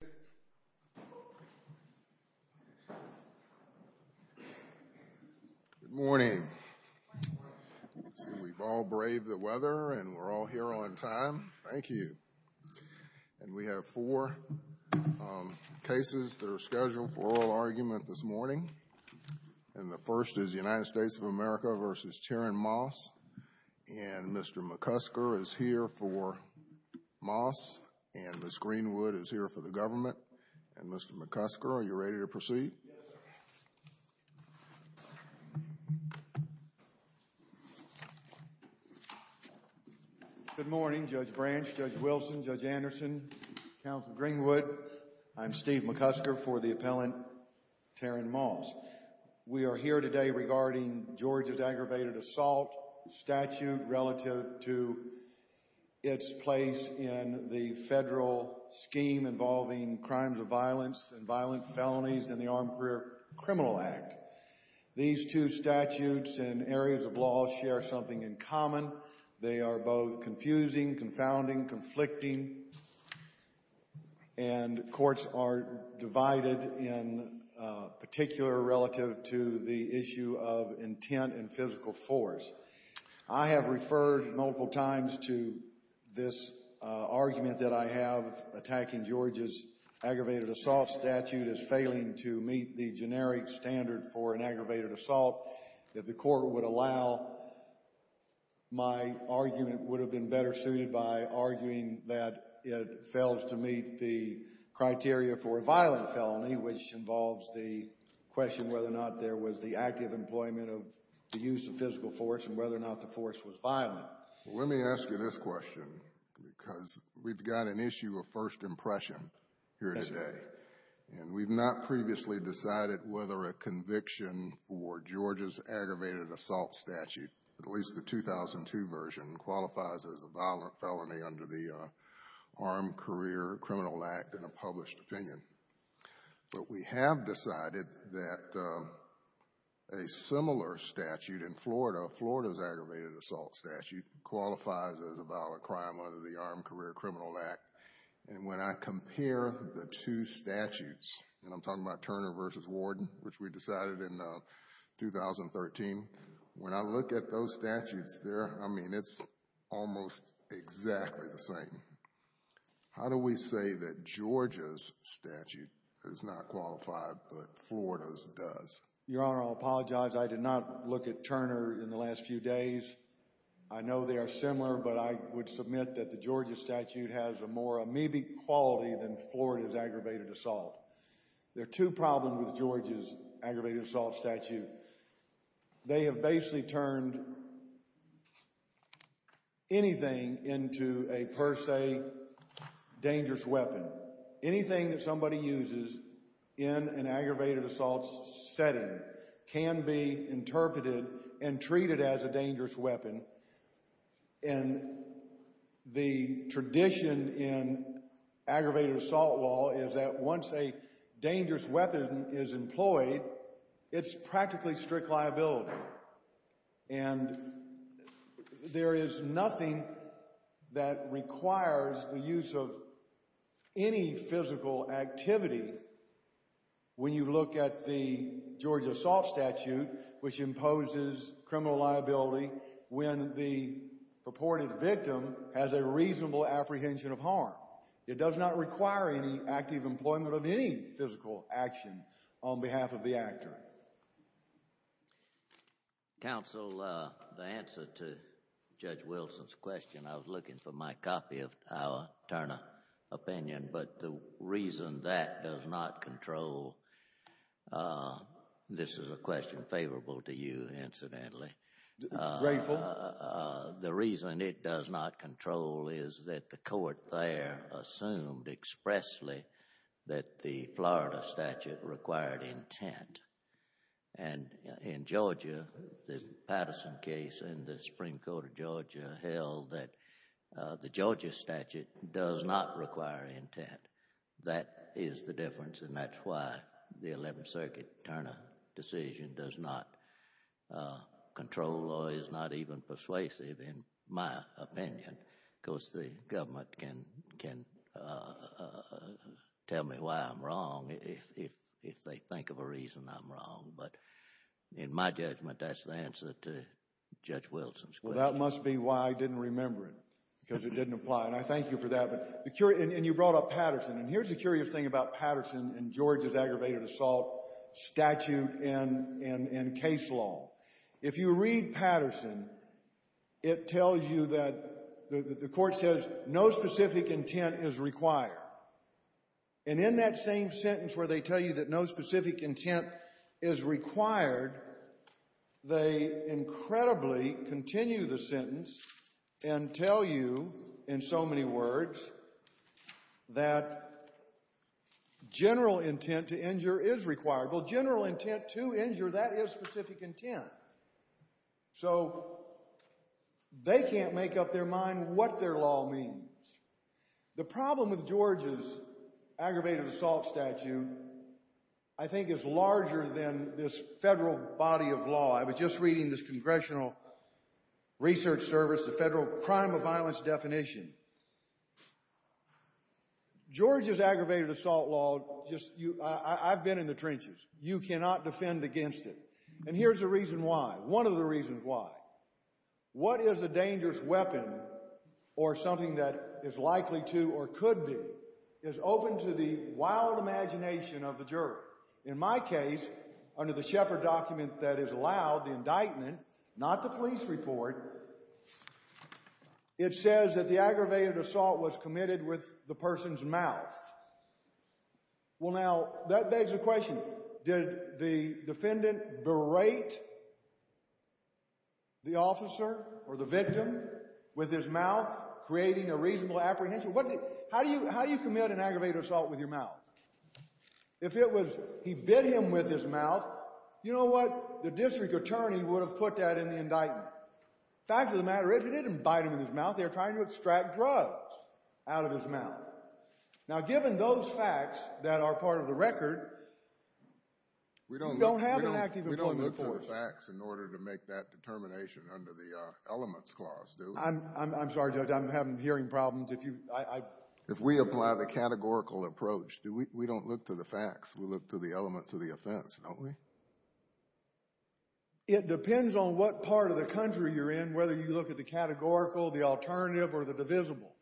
Good morning. We've all braved the weather and we're all here on time. Thank you. And we have four cases that are scheduled for oral argument this morning. And the first is United States of America v. Terin Moss. And Mr. McCusker is here for Moss. And Ms. Greenwood is here for the government. And Mr. McCusker, are you ready to proceed? Yes, sir. Good morning, Judge Branch, Judge Wilson, Judge Anderson, Counsel Greenwood. I'm Steve McCusker for the appellant Terin Moss. We are here today regarding Georgia's scheme involving crimes of violence and violent felonies in the Armed Career Criminal Act. These two statutes and areas of law share something in common. They are both confusing, confounding, conflicting, and courts are divided in particular relative to the issue of intent and physical force. I have referred multiple times to this argument that I have attacking Georgia's aggravated assault statute as failing to meet the generic standard for an aggravated assault. If the court would allow, my argument would have been better suited by arguing that it fails to meet the criteria for a violent felony, which involves the question whether or not there was the active employment of the use of physical force and whether or not the force was violent. Let me ask you this question because we've got an issue of first impression here today. And we've not previously decided whether a conviction for Georgia's aggravated assault statute, at least the 2002 version, qualifies as a violent felony under the Armed Career Criminal Act in a published opinion. But we have decided that a similar statute in Florida, Florida's aggravated assault statute, qualifies as a violent crime under the Armed Career Criminal Act. And when I compare the two statutes, and I'm talking about Turner v. Warden, which we decided in 2013, when I look at those statutes there, I mean, it's almost exactly the same. How do we say that Georgia's not qualified but Florida's does? Your Honor, I apologize. I did not look at Turner in the last few days. I know they are similar, but I would submit that the Georgia statute has a more amoebic quality than Florida's aggravated assault. There are two problems with Georgia's aggravated assault statute. They have basically turned anything into a per se dangerous weapon. Anything that somebody uses in an aggravated assault setting can be interpreted and treated as a dangerous weapon. And the tradition in aggravated assault law is that once a dangerous weapon is employed, it's practically strict liability. And there is nothing that requires the use of any physical activity when you look at the Georgia assault statute, which imposes criminal liability when the purported victim has a reasonable apprehension of harm. It does not require any active employment of any physical action on behalf of the actor. Counsel, the answer to Judge Wilson's question, I was looking for my copy of our Turner opinion, but the reason that does not control, this is a question favorable to you, incidentally, the reason it does not control is that the court there assumed expressly that the Florida statute required intent. And in Georgia, the Patterson case in the Supreme Court of Georgia held that the Georgia statute does not require intent. That is the difference and that's why the Eleventh Circuit Turner decision does not control or is not even persuasive in my opinion, because the government can tell me why I'm wrong if they think of a reason I'm wrong. But in my judgment, that's the answer to Judge Wilson's question. Well, that must be why I didn't remember it, because it didn't apply. And I thank you for that. And you brought up Patterson. And here's the curious thing about Patterson and Georgia's it tells you that the court says no specific intent is required. And in that same sentence where they tell you that no specific intent is required, they incredibly continue the sentence and tell you in so many words that general intent to injure is required. Well, general intent to injure, that is specific intent. So they can't make up their mind what their law means. The problem with Georgia's aggravated assault statute, I think, is larger than this federal body of law. I was just reading this Congressional Research Service, the federal crime of violence definition. Georgia's aggravated assault law, I've been in the trenches. You cannot defend against it. And here's the reason why. One of the reasons why. What is a dangerous weapon or something that is likely to or could be is open to the wild imagination of the jury. In my case, under the Shepard document that is allowed, the indictment not the police report, it says that the aggravated assault was committed with the person's mouth. Well, now, that begs the question. Did the defendant berate the officer or the victim with his mouth creating a reasonable apprehension? How do you commit an aggravated assault with your mouth? If it was he bit him with his mouth, you know what? The district attorney would have put that in the indictment. Fact of the matter is, he didn't bite him in his mouth. They're trying to extract drugs out of his mouth. Now, given those facts that are part of the record, we don't have an active employment force. We don't look for the facts in order to make that determination under the elements clause, do we? I'm sorry, Judge. I'm having hearing problems. If you — If we apply the categorical approach, we don't look to the facts. We look to the elements of the offense, don't we? It depends on what part of the country you're in, whether you look at the categorical, the alternative, or the divisible.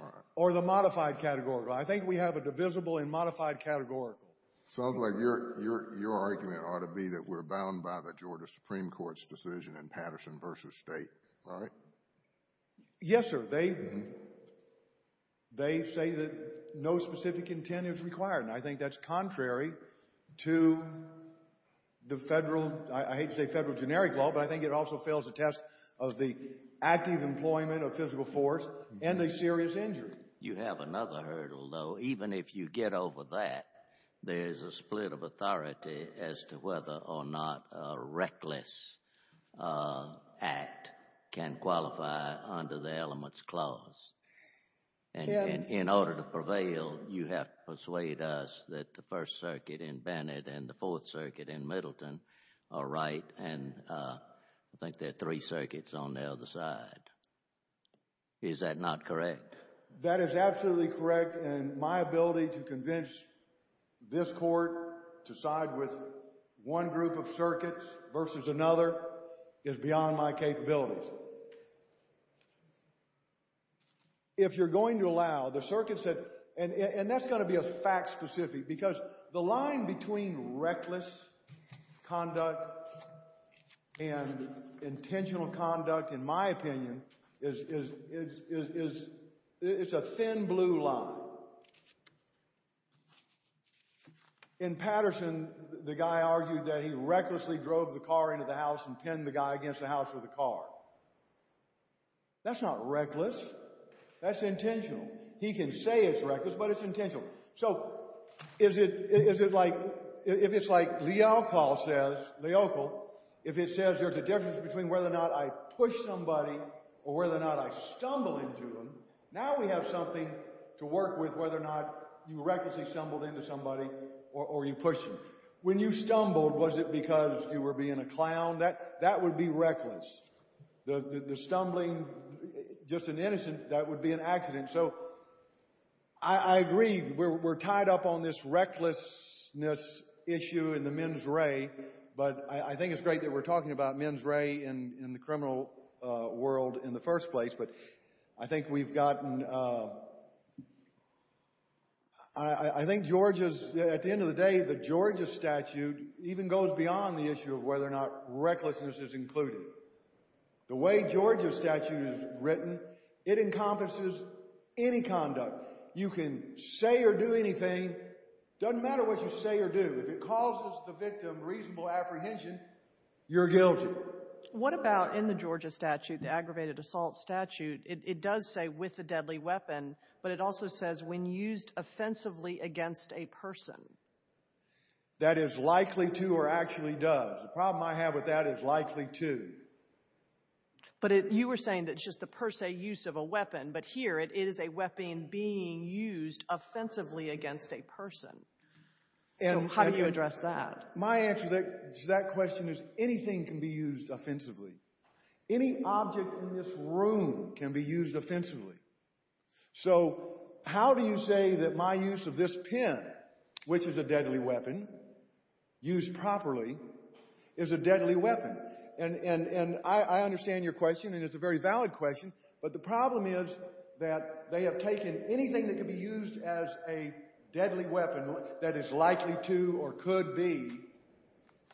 All right. Or the modified categorical. I think we have a divisible and modified categorical. Sounds like your argument ought to be that we're bound by the Georgia Supreme Court's decision in Patterson v. State, right? Yes, sir. They say that no specific intent is required, and I think that's contrary to the federal — I hate to say federal generic law, but I think it also fails the test of the active employment of physical force and a serious injury. You have another hurdle, though. Even if you get over that, there's a split of authority as to whether or not a reckless act can qualify under the elements clause. And in order to prevail, you have to persuade us that the First Circuit in Bennett and the Fourth Circuit in Middleton are right, and I think there are three circuits on the other side. Is that not correct? That is absolutely correct, and my ability to convince this court to side with one group of circuits versus another is beyond my capabilities. If you're going to allow — the circuit said — and that's going to be a fact specific, because the line between reckless conduct and intentional conduct, in my opinion, is — it's a thin blue line. In Patterson, the guy argued that he recklessly drove the car into the house and pinned the guy against the house with a car. That's not reckless. That's intentional. He can say it's reckless, but it's intentional. So is it like — if it's like Leocol says, if it says there's a difference between whether or not I push somebody or whether or not I stumble into them, now we have something to work with whether or not you recklessly stumbled into somebody or you pushed them. When you stumbled, was it because you were being a clown? That would be reckless. The stumbling — just an innocent — that would be an accident. So I agree. We're tied up on this recklessness issue in the men's ray, but I think it's great that we're talking about men's ray in the criminal world in the first place. But I think we've gotten — I think Georgia's — at the end of the day, the Georgia statute even goes beyond the issue of whether or not recklessness is included. The way Georgia statute is written, it encompasses any conduct. You can say or do anything. Doesn't matter what you say or do. If it causes the victim reasonable apprehension, you're guilty. So what about in the Georgia statute, the aggravated assault statute? It does say with a deadly weapon, but it also says when used offensively against a person. That is likely to or actually does. The problem I have with that is likely to. But you were saying that it's just the per se use of a weapon, but here it is a weapon being used offensively against a person. So how do you address that? My answer to that question is anything can be used offensively. Any object in this room can be used offensively. So how do you say that my use of this pen, which is a deadly weapon, used properly, is a deadly weapon? And I understand your question, and it's a very valid question. But the problem is that they have taken anything that can be used as a deadly weapon that is likely to or could be.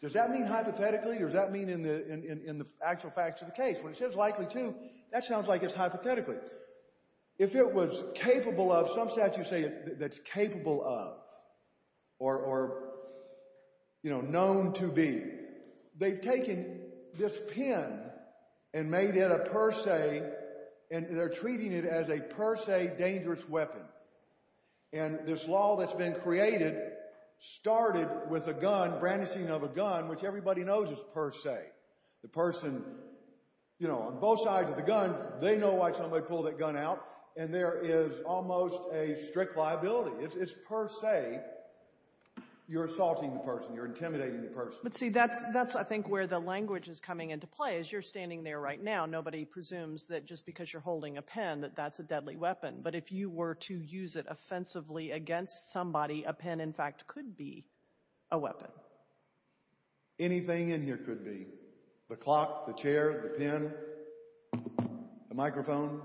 Does that mean hypothetically or does that mean in the actual facts of the case? When it says likely to, that sounds like it's hypothetically. If it was capable of, some statutes say that's capable of or, you know, known to be. They've taken this pen and made it a per se, and they're treating it as a per se dangerous weapon. And this law that's been created started with a gun, brandishing of a gun, which everybody knows is per se. The person, you know, on both sides of the gun, they know why somebody pulled that gun out, and there is almost a strict liability. It's per se you're assaulting the person, you're intimidating the person. But, see, that's, I think, where the language is coming into play. As you're standing there right now, nobody presumes that just because you're holding a pen that that's a deadly weapon. But if you were to use it offensively against somebody, a pen, in fact, could be a weapon. Anything in here could be. The clock, the chair, the pen, the microphone,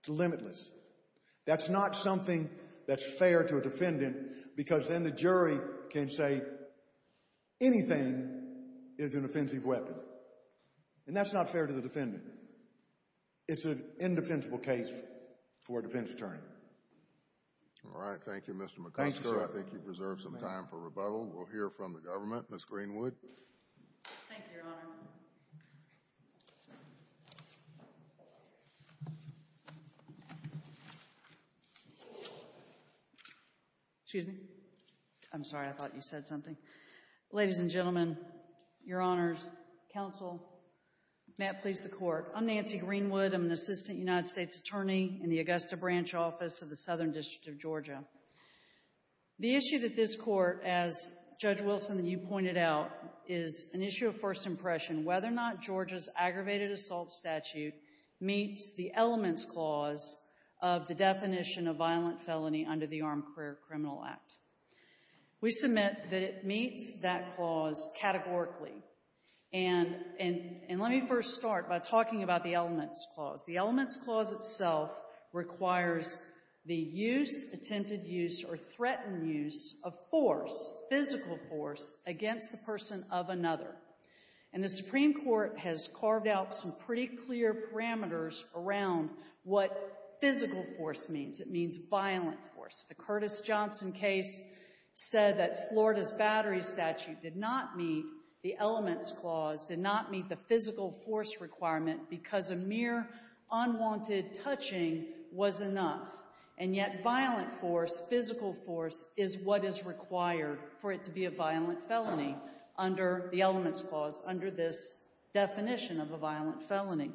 it's limitless. That's not something that's fair to a defendant because then the jury can say anything is an offensive weapon. And that's not fair to the defendant. It's an indefensible case for a defense attorney. All right. Thank you, Mr. McCusker. Thank you, sir. I think you've reserved some time for rebuttal. We'll hear from the government. Ms. Greenwood. Thank you, Your Honor. Excuse me. I'm sorry. I thought you said something. Ladies and gentlemen, Your Honors, counsel, may it please the Court. I'm Nancy Greenwood. I'm an assistant United States attorney in the Augusta Branch Office of the Southern District of Georgia. The issue that this Court, as Judge Wilson and you pointed out, is an issue of first impression, whether or not Georgia's aggravated assault statute meets the elements clause of the definition of violent felony under the Armed Career Criminal Act. We submit that it meets that clause categorically. And let me first start by talking about the elements clause. The elements clause itself requires the use, attempted use, or threatened use of force, physical force, against the person of another. And the Supreme Court has carved out some pretty clear parameters around what physical force means. It means violent force. The Curtis Johnson case said that Florida's battery statute did not meet the elements clause, did not meet the physical force requirement, because a mere unwanted touching was enough. And yet violent force, physical force, is what is required for it to be a violent felony under the elements clause, under this definition of a violent felony.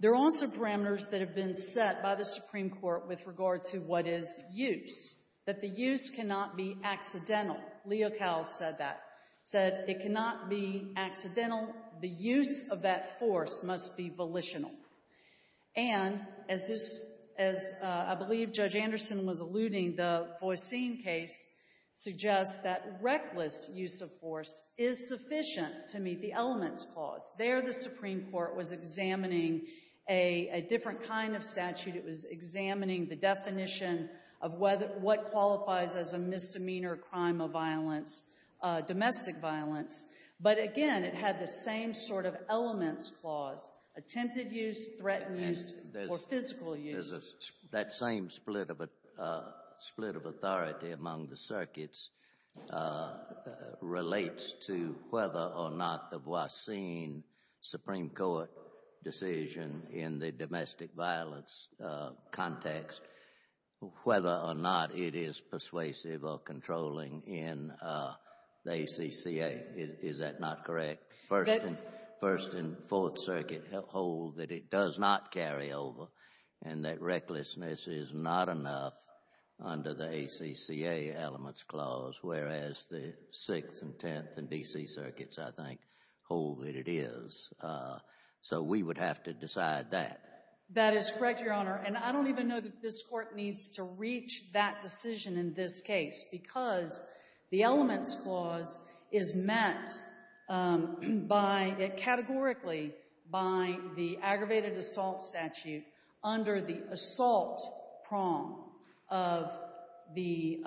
There are also parameters that have been set by the Supreme Court with regard to what is use, that the use cannot be accidental. Leo Cowles said that, said it cannot be accidental. The use of that force must be volitional. And as this, as I believe Judge Anderson was alluding, the Voisin case suggests that reckless use of force is sufficient to meet the elements clause. There, the Supreme Court was examining a different kind of statute. It was examining the definition of what qualifies as a misdemeanor crime of violence, domestic violence. But again, it had the same sort of elements clause, attempted use, threatened use, or physical use. That same split of authority among the circuits relates to whether or not the Voisin Supreme Court decision in the domestic violence context, whether or not it is persuasive or controlling in the ACCA. Is that not correct? First and Fourth Circuit hold that it does not carry over and that recklessness is not enough under the ACCA elements clause, whereas the Sixth and Tenth and D.C. circuits, I think, hold that it is. So we would have to decide that. That is correct, Your Honor. And I don't even know that this Court needs to reach that decision in this case because the elements clause is met by, categorically, by the aggravated assault statute under the assault prong of the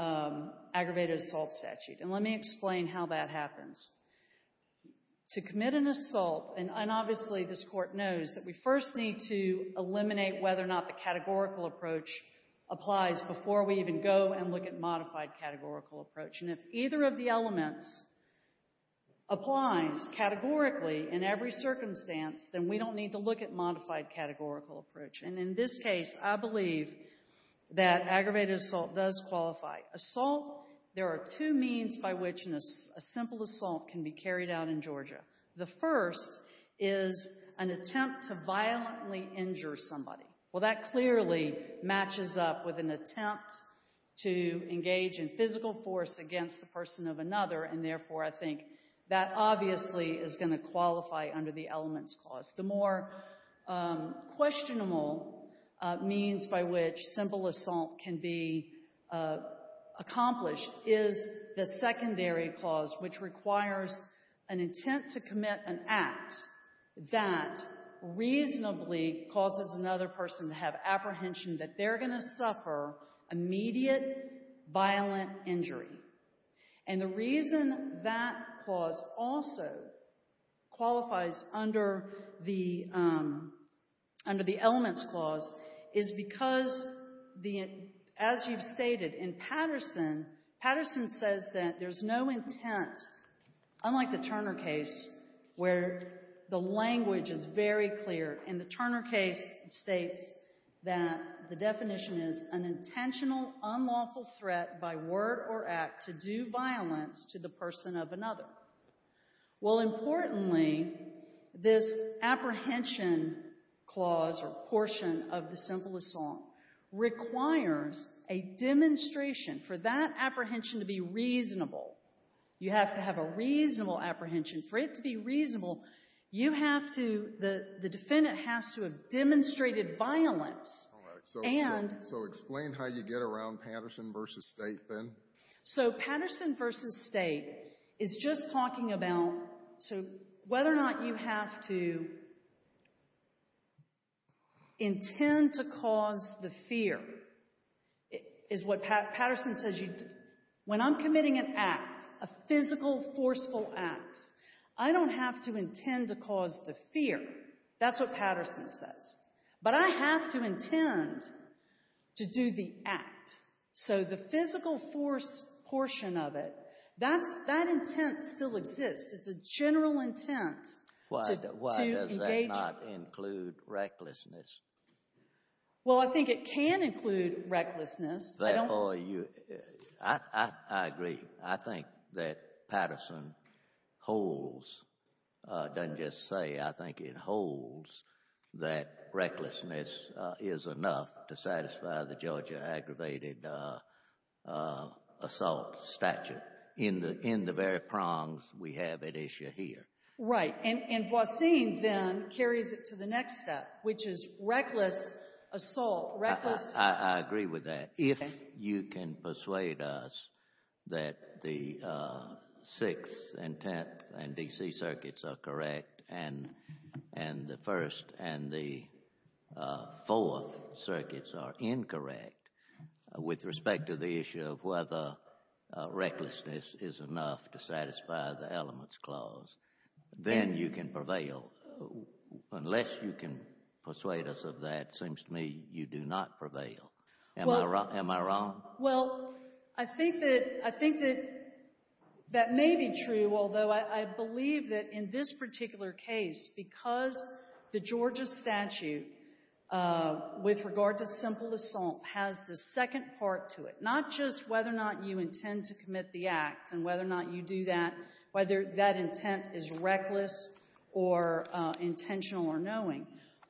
aggravated assault statute. And let me explain how that happens. To commit an assault, and obviously this Court knows that we first need to eliminate whether or not the categorical approach applies before we even go and look at modified categorical approach. And if either of the elements applies categorically in every circumstance, then we don't need to look at modified categorical approach. And in this case, I believe that aggravated assault does qualify. Assault, there are two means by which a simple assault can be carried out in Georgia. The first is an attempt to violently injure somebody. Well, that clearly matches up with an attempt to engage in physical force against the person of another, and therefore I think that obviously is going to qualify under the elements clause. The more questionable means by which simple assault can be accomplished is the secondary clause, which requires an intent to commit an act that reasonably causes another person to have apprehension that they're going to suffer immediate violent injury. And the reason that clause also qualifies under the elements clause is because, as you've stated, in Patterson, Patterson says that there's no intent, unlike the Turner case, where the language is very clear. In the Turner case, it states that the definition is an intentional, unlawful threat by word or act to do violence to the person of another. Well, importantly, this apprehension clause or portion of the simple assault requires a demonstration. For that apprehension to be reasonable, you have to have a reasonable apprehension. For it to be reasonable, you have to, the defendant has to have demonstrated violence. So explain how you get around Patterson v. State then. So Patterson v. State is just talking about whether or not you have to intend to cause the fear. Patterson says when I'm committing an act, a physical, forceful act, I don't have to intend to cause the fear. That's what Patterson says. But I have to intend to do the act. So the physical force portion of it, that intent still exists. It's a general intent to engage. Why does that not include recklessness? Well, I think it can include recklessness. I agree. I think that Patterson holds, doesn't just say. I think it holds that recklessness is enough to satisfy the Georgia aggravated assault statute in the very prongs we have at issue here. Right. And Voisin then carries it to the next step, which is reckless assault. I agree with that. If you can persuade us that the 6th and 10th and D.C. circuits are correct and the 1st and the 4th circuits are incorrect with respect to the issue of whether recklessness is enough to satisfy the elements clause, then you can prevail. Unless you can persuade us of that, it seems to me you do not prevail. Am I wrong? Well, I think that that may be true, although I believe that in this particular case, because the Georgia statute with regard to simple assault has the second part to it, not just whether or not you intend to commit the act and whether or not you do that, whether that intent is reckless or intentional or knowing,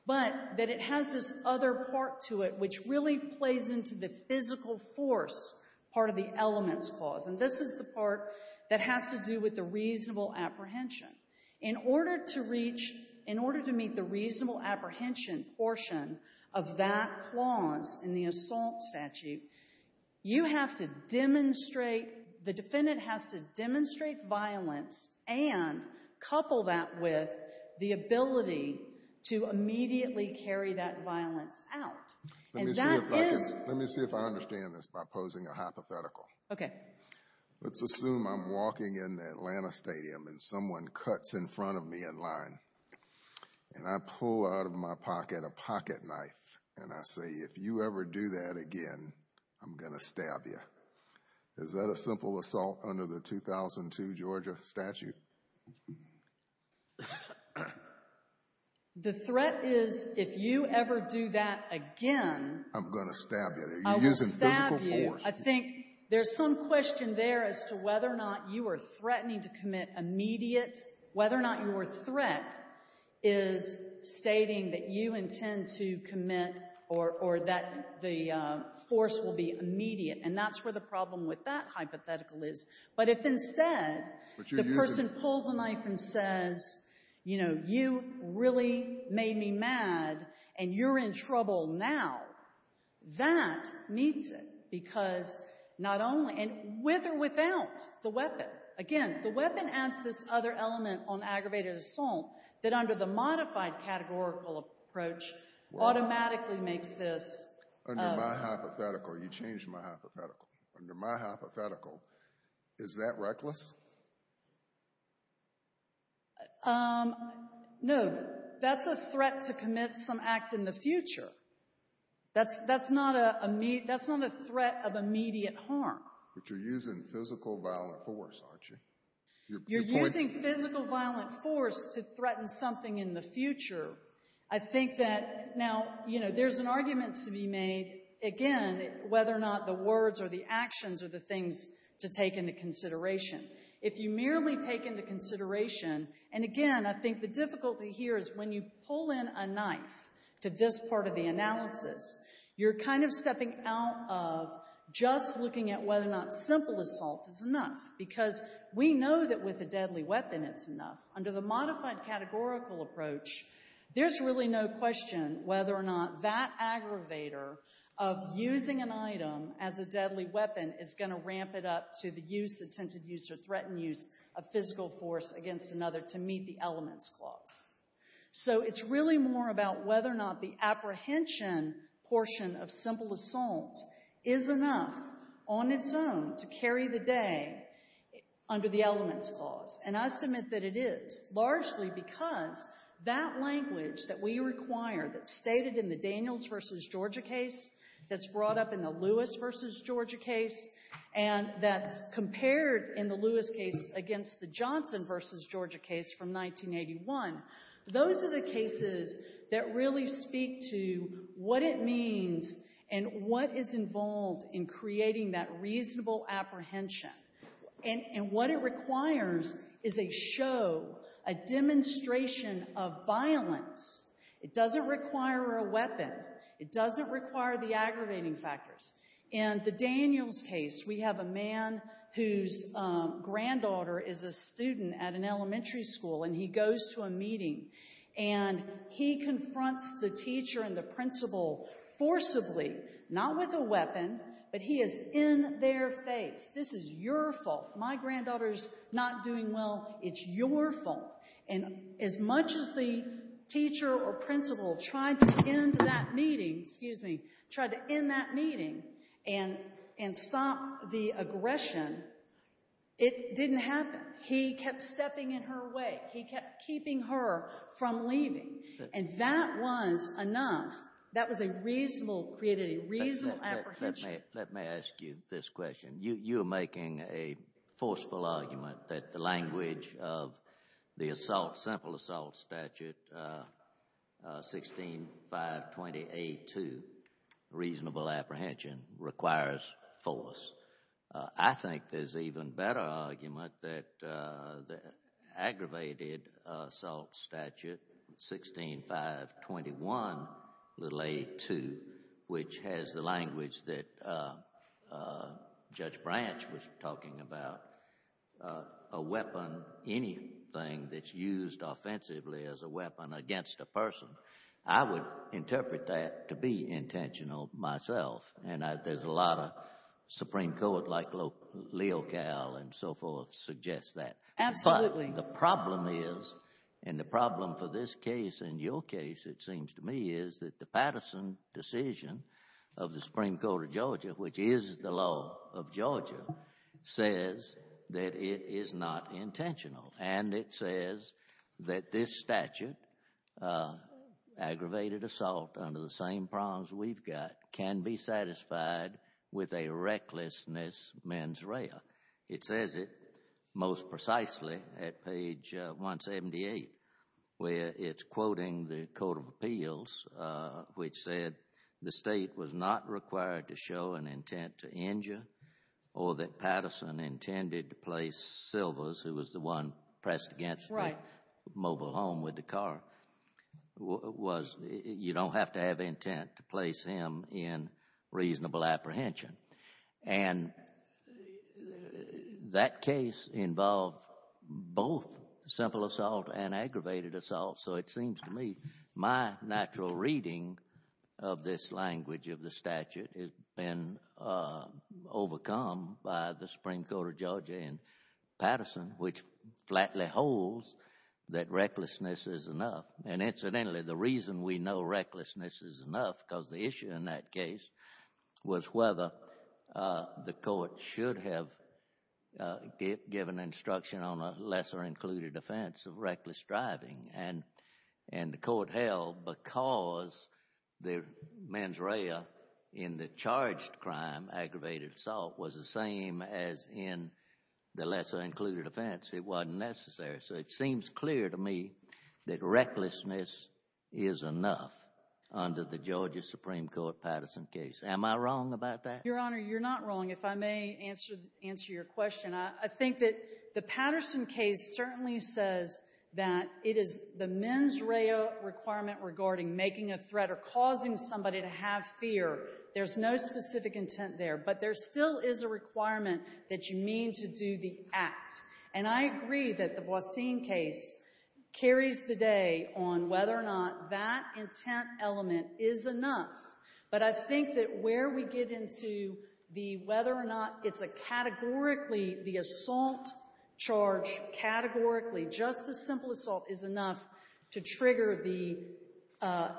but that it has this other part to it which really plays into the physical force part of the elements clause. And this is the part that has to do with the reasonable apprehension. In order to reach, in order to meet the reasonable apprehension portion of that clause in the assault statute, you have to demonstrate, the defendant has to demonstrate violence and couple that with the ability to immediately carry that violence out. Let me see if I understand this by posing a hypothetical. Okay. Let's assume I'm walking in Atlanta Stadium and someone cuts in front of me in line. And I pull out of my pocket a pocket knife and I say, if you ever do that again, I'm going to stab you. Is that a simple assault under the 2002 Georgia statute? The threat is if you ever do that again. I'm going to stab you. You're using physical force. I will stab you. I think there's some question there as to whether or not you are threatening to commit immediate, whether or not your threat is stating that you intend to commit or that the force will be immediate. And that's where the problem with that hypothetical is. But if instead the person pulls the knife and says, you know, you really made me mad and you're in trouble now, that meets it because not only — and with or without the weapon. Again, the weapon adds this other element on aggravated assault that under the modified categorical approach automatically makes this — Under my hypothetical, you changed my hypothetical. Under my hypothetical, is that reckless? No. That's a threat to commit some act in the future. That's not a threat of immediate harm. But you're using physical violent force, aren't you? You're using physical violent force to threaten something in the future. I think that now, you know, there's an argument to be made, again, whether or not the words or the actions are the things to take into consideration. If you merely take into consideration — and again, I think the difficulty here is when you pull in a knife to this part of the analysis, you're kind of stepping out of just looking at whether or not simple assault is enough. Because we know that with a deadly weapon, it's enough. Under the modified categorical approach, there's really no question whether or not that aggravator of using an item as a deadly weapon is going to ramp it up to the use, attempted use or threatened use of physical force against another to meet the elements clause. So it's really more about whether or not the apprehension portion of simple assault is enough on its own to carry the day under the elements clause. And I submit that it is, largely because that language that we require that's stated in the Daniels v. Georgia case, that's brought up in the Lewis v. Georgia case, and that's compared in the Lewis case against the Johnson v. Georgia case from 1981, those are the cases that really speak to what it means and what is involved in creating that reasonable apprehension. And what it requires is a show, a demonstration of violence. It doesn't require a weapon. It doesn't require the aggravating factors. In the Daniels case, we have a man whose granddaughter is a student at an elementary school, and he goes to a meeting, and he confronts the teacher and the principal forcibly, not with a weapon, but he is in their face. This is your fault. My granddaughter's not doing well. It's your fault. And as much as the teacher or principal tried to end that meeting, excuse me, tried to end that meeting and stop the aggression, it didn't happen. He kept stepping in her way. He kept keeping her from leaving. And that was enough. That was a reasonable, created a reasonable apprehension. Let me ask you this question. You are making a forceful argument that the language of the assault, simple assault statute, 16520A2, reasonable apprehension, requires force. I think there's an even better argument that the aggravated assault statute, 16521A2, which has the language that Judge Branch was talking about, a weapon, anything that's used offensively as a weapon against a person, I would interpret that to be intentional myself. And there's a lot of Supreme Court, like Leo Cowell and so forth, suggest that. Absolutely. But the problem is, and the problem for this case and your case, it seems to me, is that the Patterson decision of the Supreme Court of Georgia, which is the law of Georgia, says that it is not intentional. And it says that this statute, aggravated assault under the same prongs we've got, can be satisfied with a recklessness mens rea. It says it most precisely at page 178, where it's quoting the Court of Appeals, which said, the State was not required to show an intent to injure or that Patterson intended to place Silvers, who was the one pressed against the mobile home with the car, was, you don't have to have intent to place him in reasonable apprehension. And that case involved both simple assault and aggravated assault. So it seems to me my natural reading of this language of the statute has been overcome by the Supreme Court of Georgia and Patterson, which flatly holds that recklessness is enough. And incidentally, the reason we know recklessness is enough, because the issue in that case, was whether the court should have given instruction on a lesser included offense of reckless driving. And the court held, because the mens rea in the charged crime, aggravated assault, was the same as in the lesser included offense, it wasn't necessary. So it seems clear to me that recklessness is enough under the Georgia Supreme Court Patterson case. Am I wrong about that? Your Honor, you're not wrong, if I may answer your question. I think that the Patterson case certainly says that it is the mens rea requirement regarding making a threat or causing somebody to have fear. There's no specific intent there. But there still is a requirement that you mean to do the act. And I agree that the Voisin case carries the day on whether or not that intent element is enough. But I think that where we get into the whether or not it's a categorically, the assault charge categorically, just the simple assault, is enough to trigger the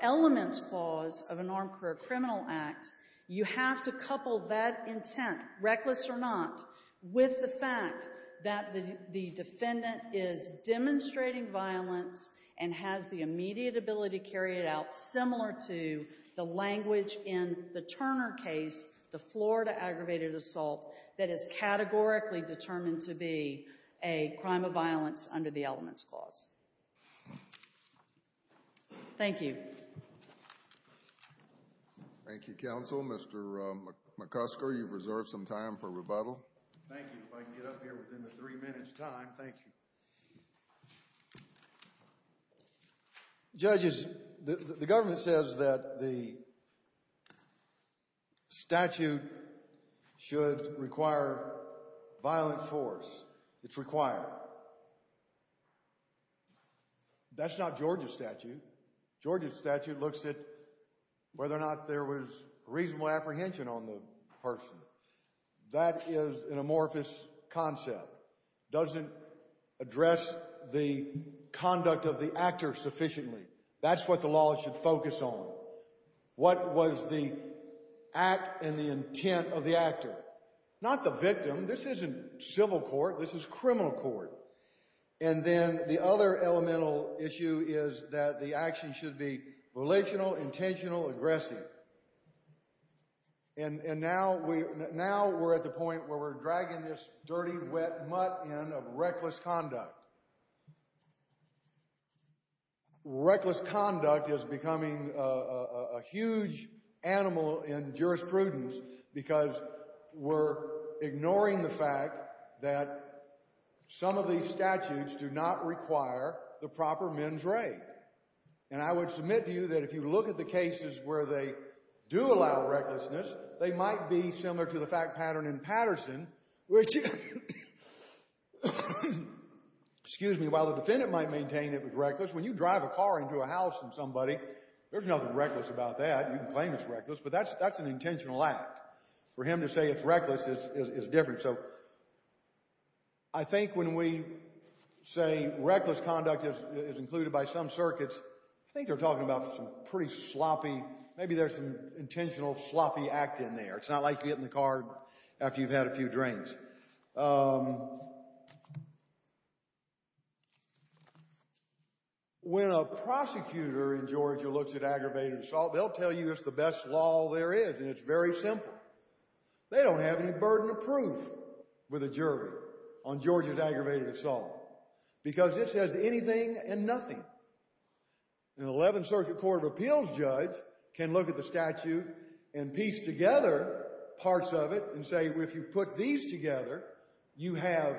elements clause of an armed career criminal act, you have to couple that intent, reckless or not, with the fact that the defendant is demonstrating violence and has the immediate ability to carry it out similar to the language in the Turner case, the Florida aggravated assault, that is categorically determined to be a crime of violence under the elements clause. Thank you. Thank you, counsel. Mr. McCusker, you've reserved some time for rebuttal. Thank you. If I can get up here within the three minutes time, thank you. Judges, the government says that the statute should require violent force. It's required. That's not Georgia's statute. Georgia's statute looks at whether or not there was reasonable apprehension on the person. That is an amorphous concept. It doesn't address the conduct of the actor sufficiently. That's what the law should focus on. What was the act and the intent of the actor? Not the victim. This isn't civil court. This is criminal court. And then the other elemental issue is that the action should be relational, intentional, aggressive. And now we're at the point where we're dragging this dirty, wet mutt in of reckless conduct. Reckless conduct is becoming a huge animal in jurisprudence because we're ignoring the fact that some of these statutes do not require the proper men's right. And I would submit to you that if you look at the cases where they do allow recklessness, they might be similar to the fact pattern in Patterson, which, excuse me, while the defendant might maintain it was reckless, when you drive a car into a house and somebody, there's nothing reckless about that. You can claim it's reckless, but that's an intentional act. For him to say it's reckless is different. So I think when we say reckless conduct is included by some circuits, I think they're talking about some pretty sloppy, maybe there's some intentional sloppy act in there. It's not like you get in the car after you've had a few drinks. When a prosecutor in Georgia looks at aggravated assault, they'll tell you it's the best law there is, and it's very simple. They don't have any burden of proof with a jury on Georgia's aggravated assault because it says anything and nothing. An 11th Circuit Court of Appeals judge can look at the statute and piece together parts of it and say, if you put these together, you have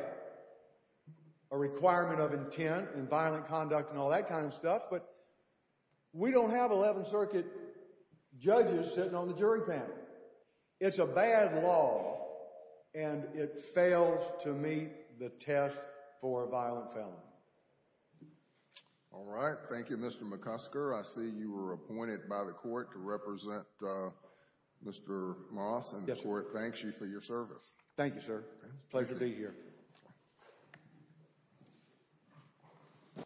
a requirement of intent and violent conduct and all that kind of stuff. But we don't have 11th Circuit judges sitting on the jury panel. It's a bad law, and it fails to meet the test for a violent felon. All right. Thank you, Mr. McCusker. I see you were appointed by the court to represent Mr. Moss, and the court thanks you for your service. Thank you, sir. Pleasure to be here.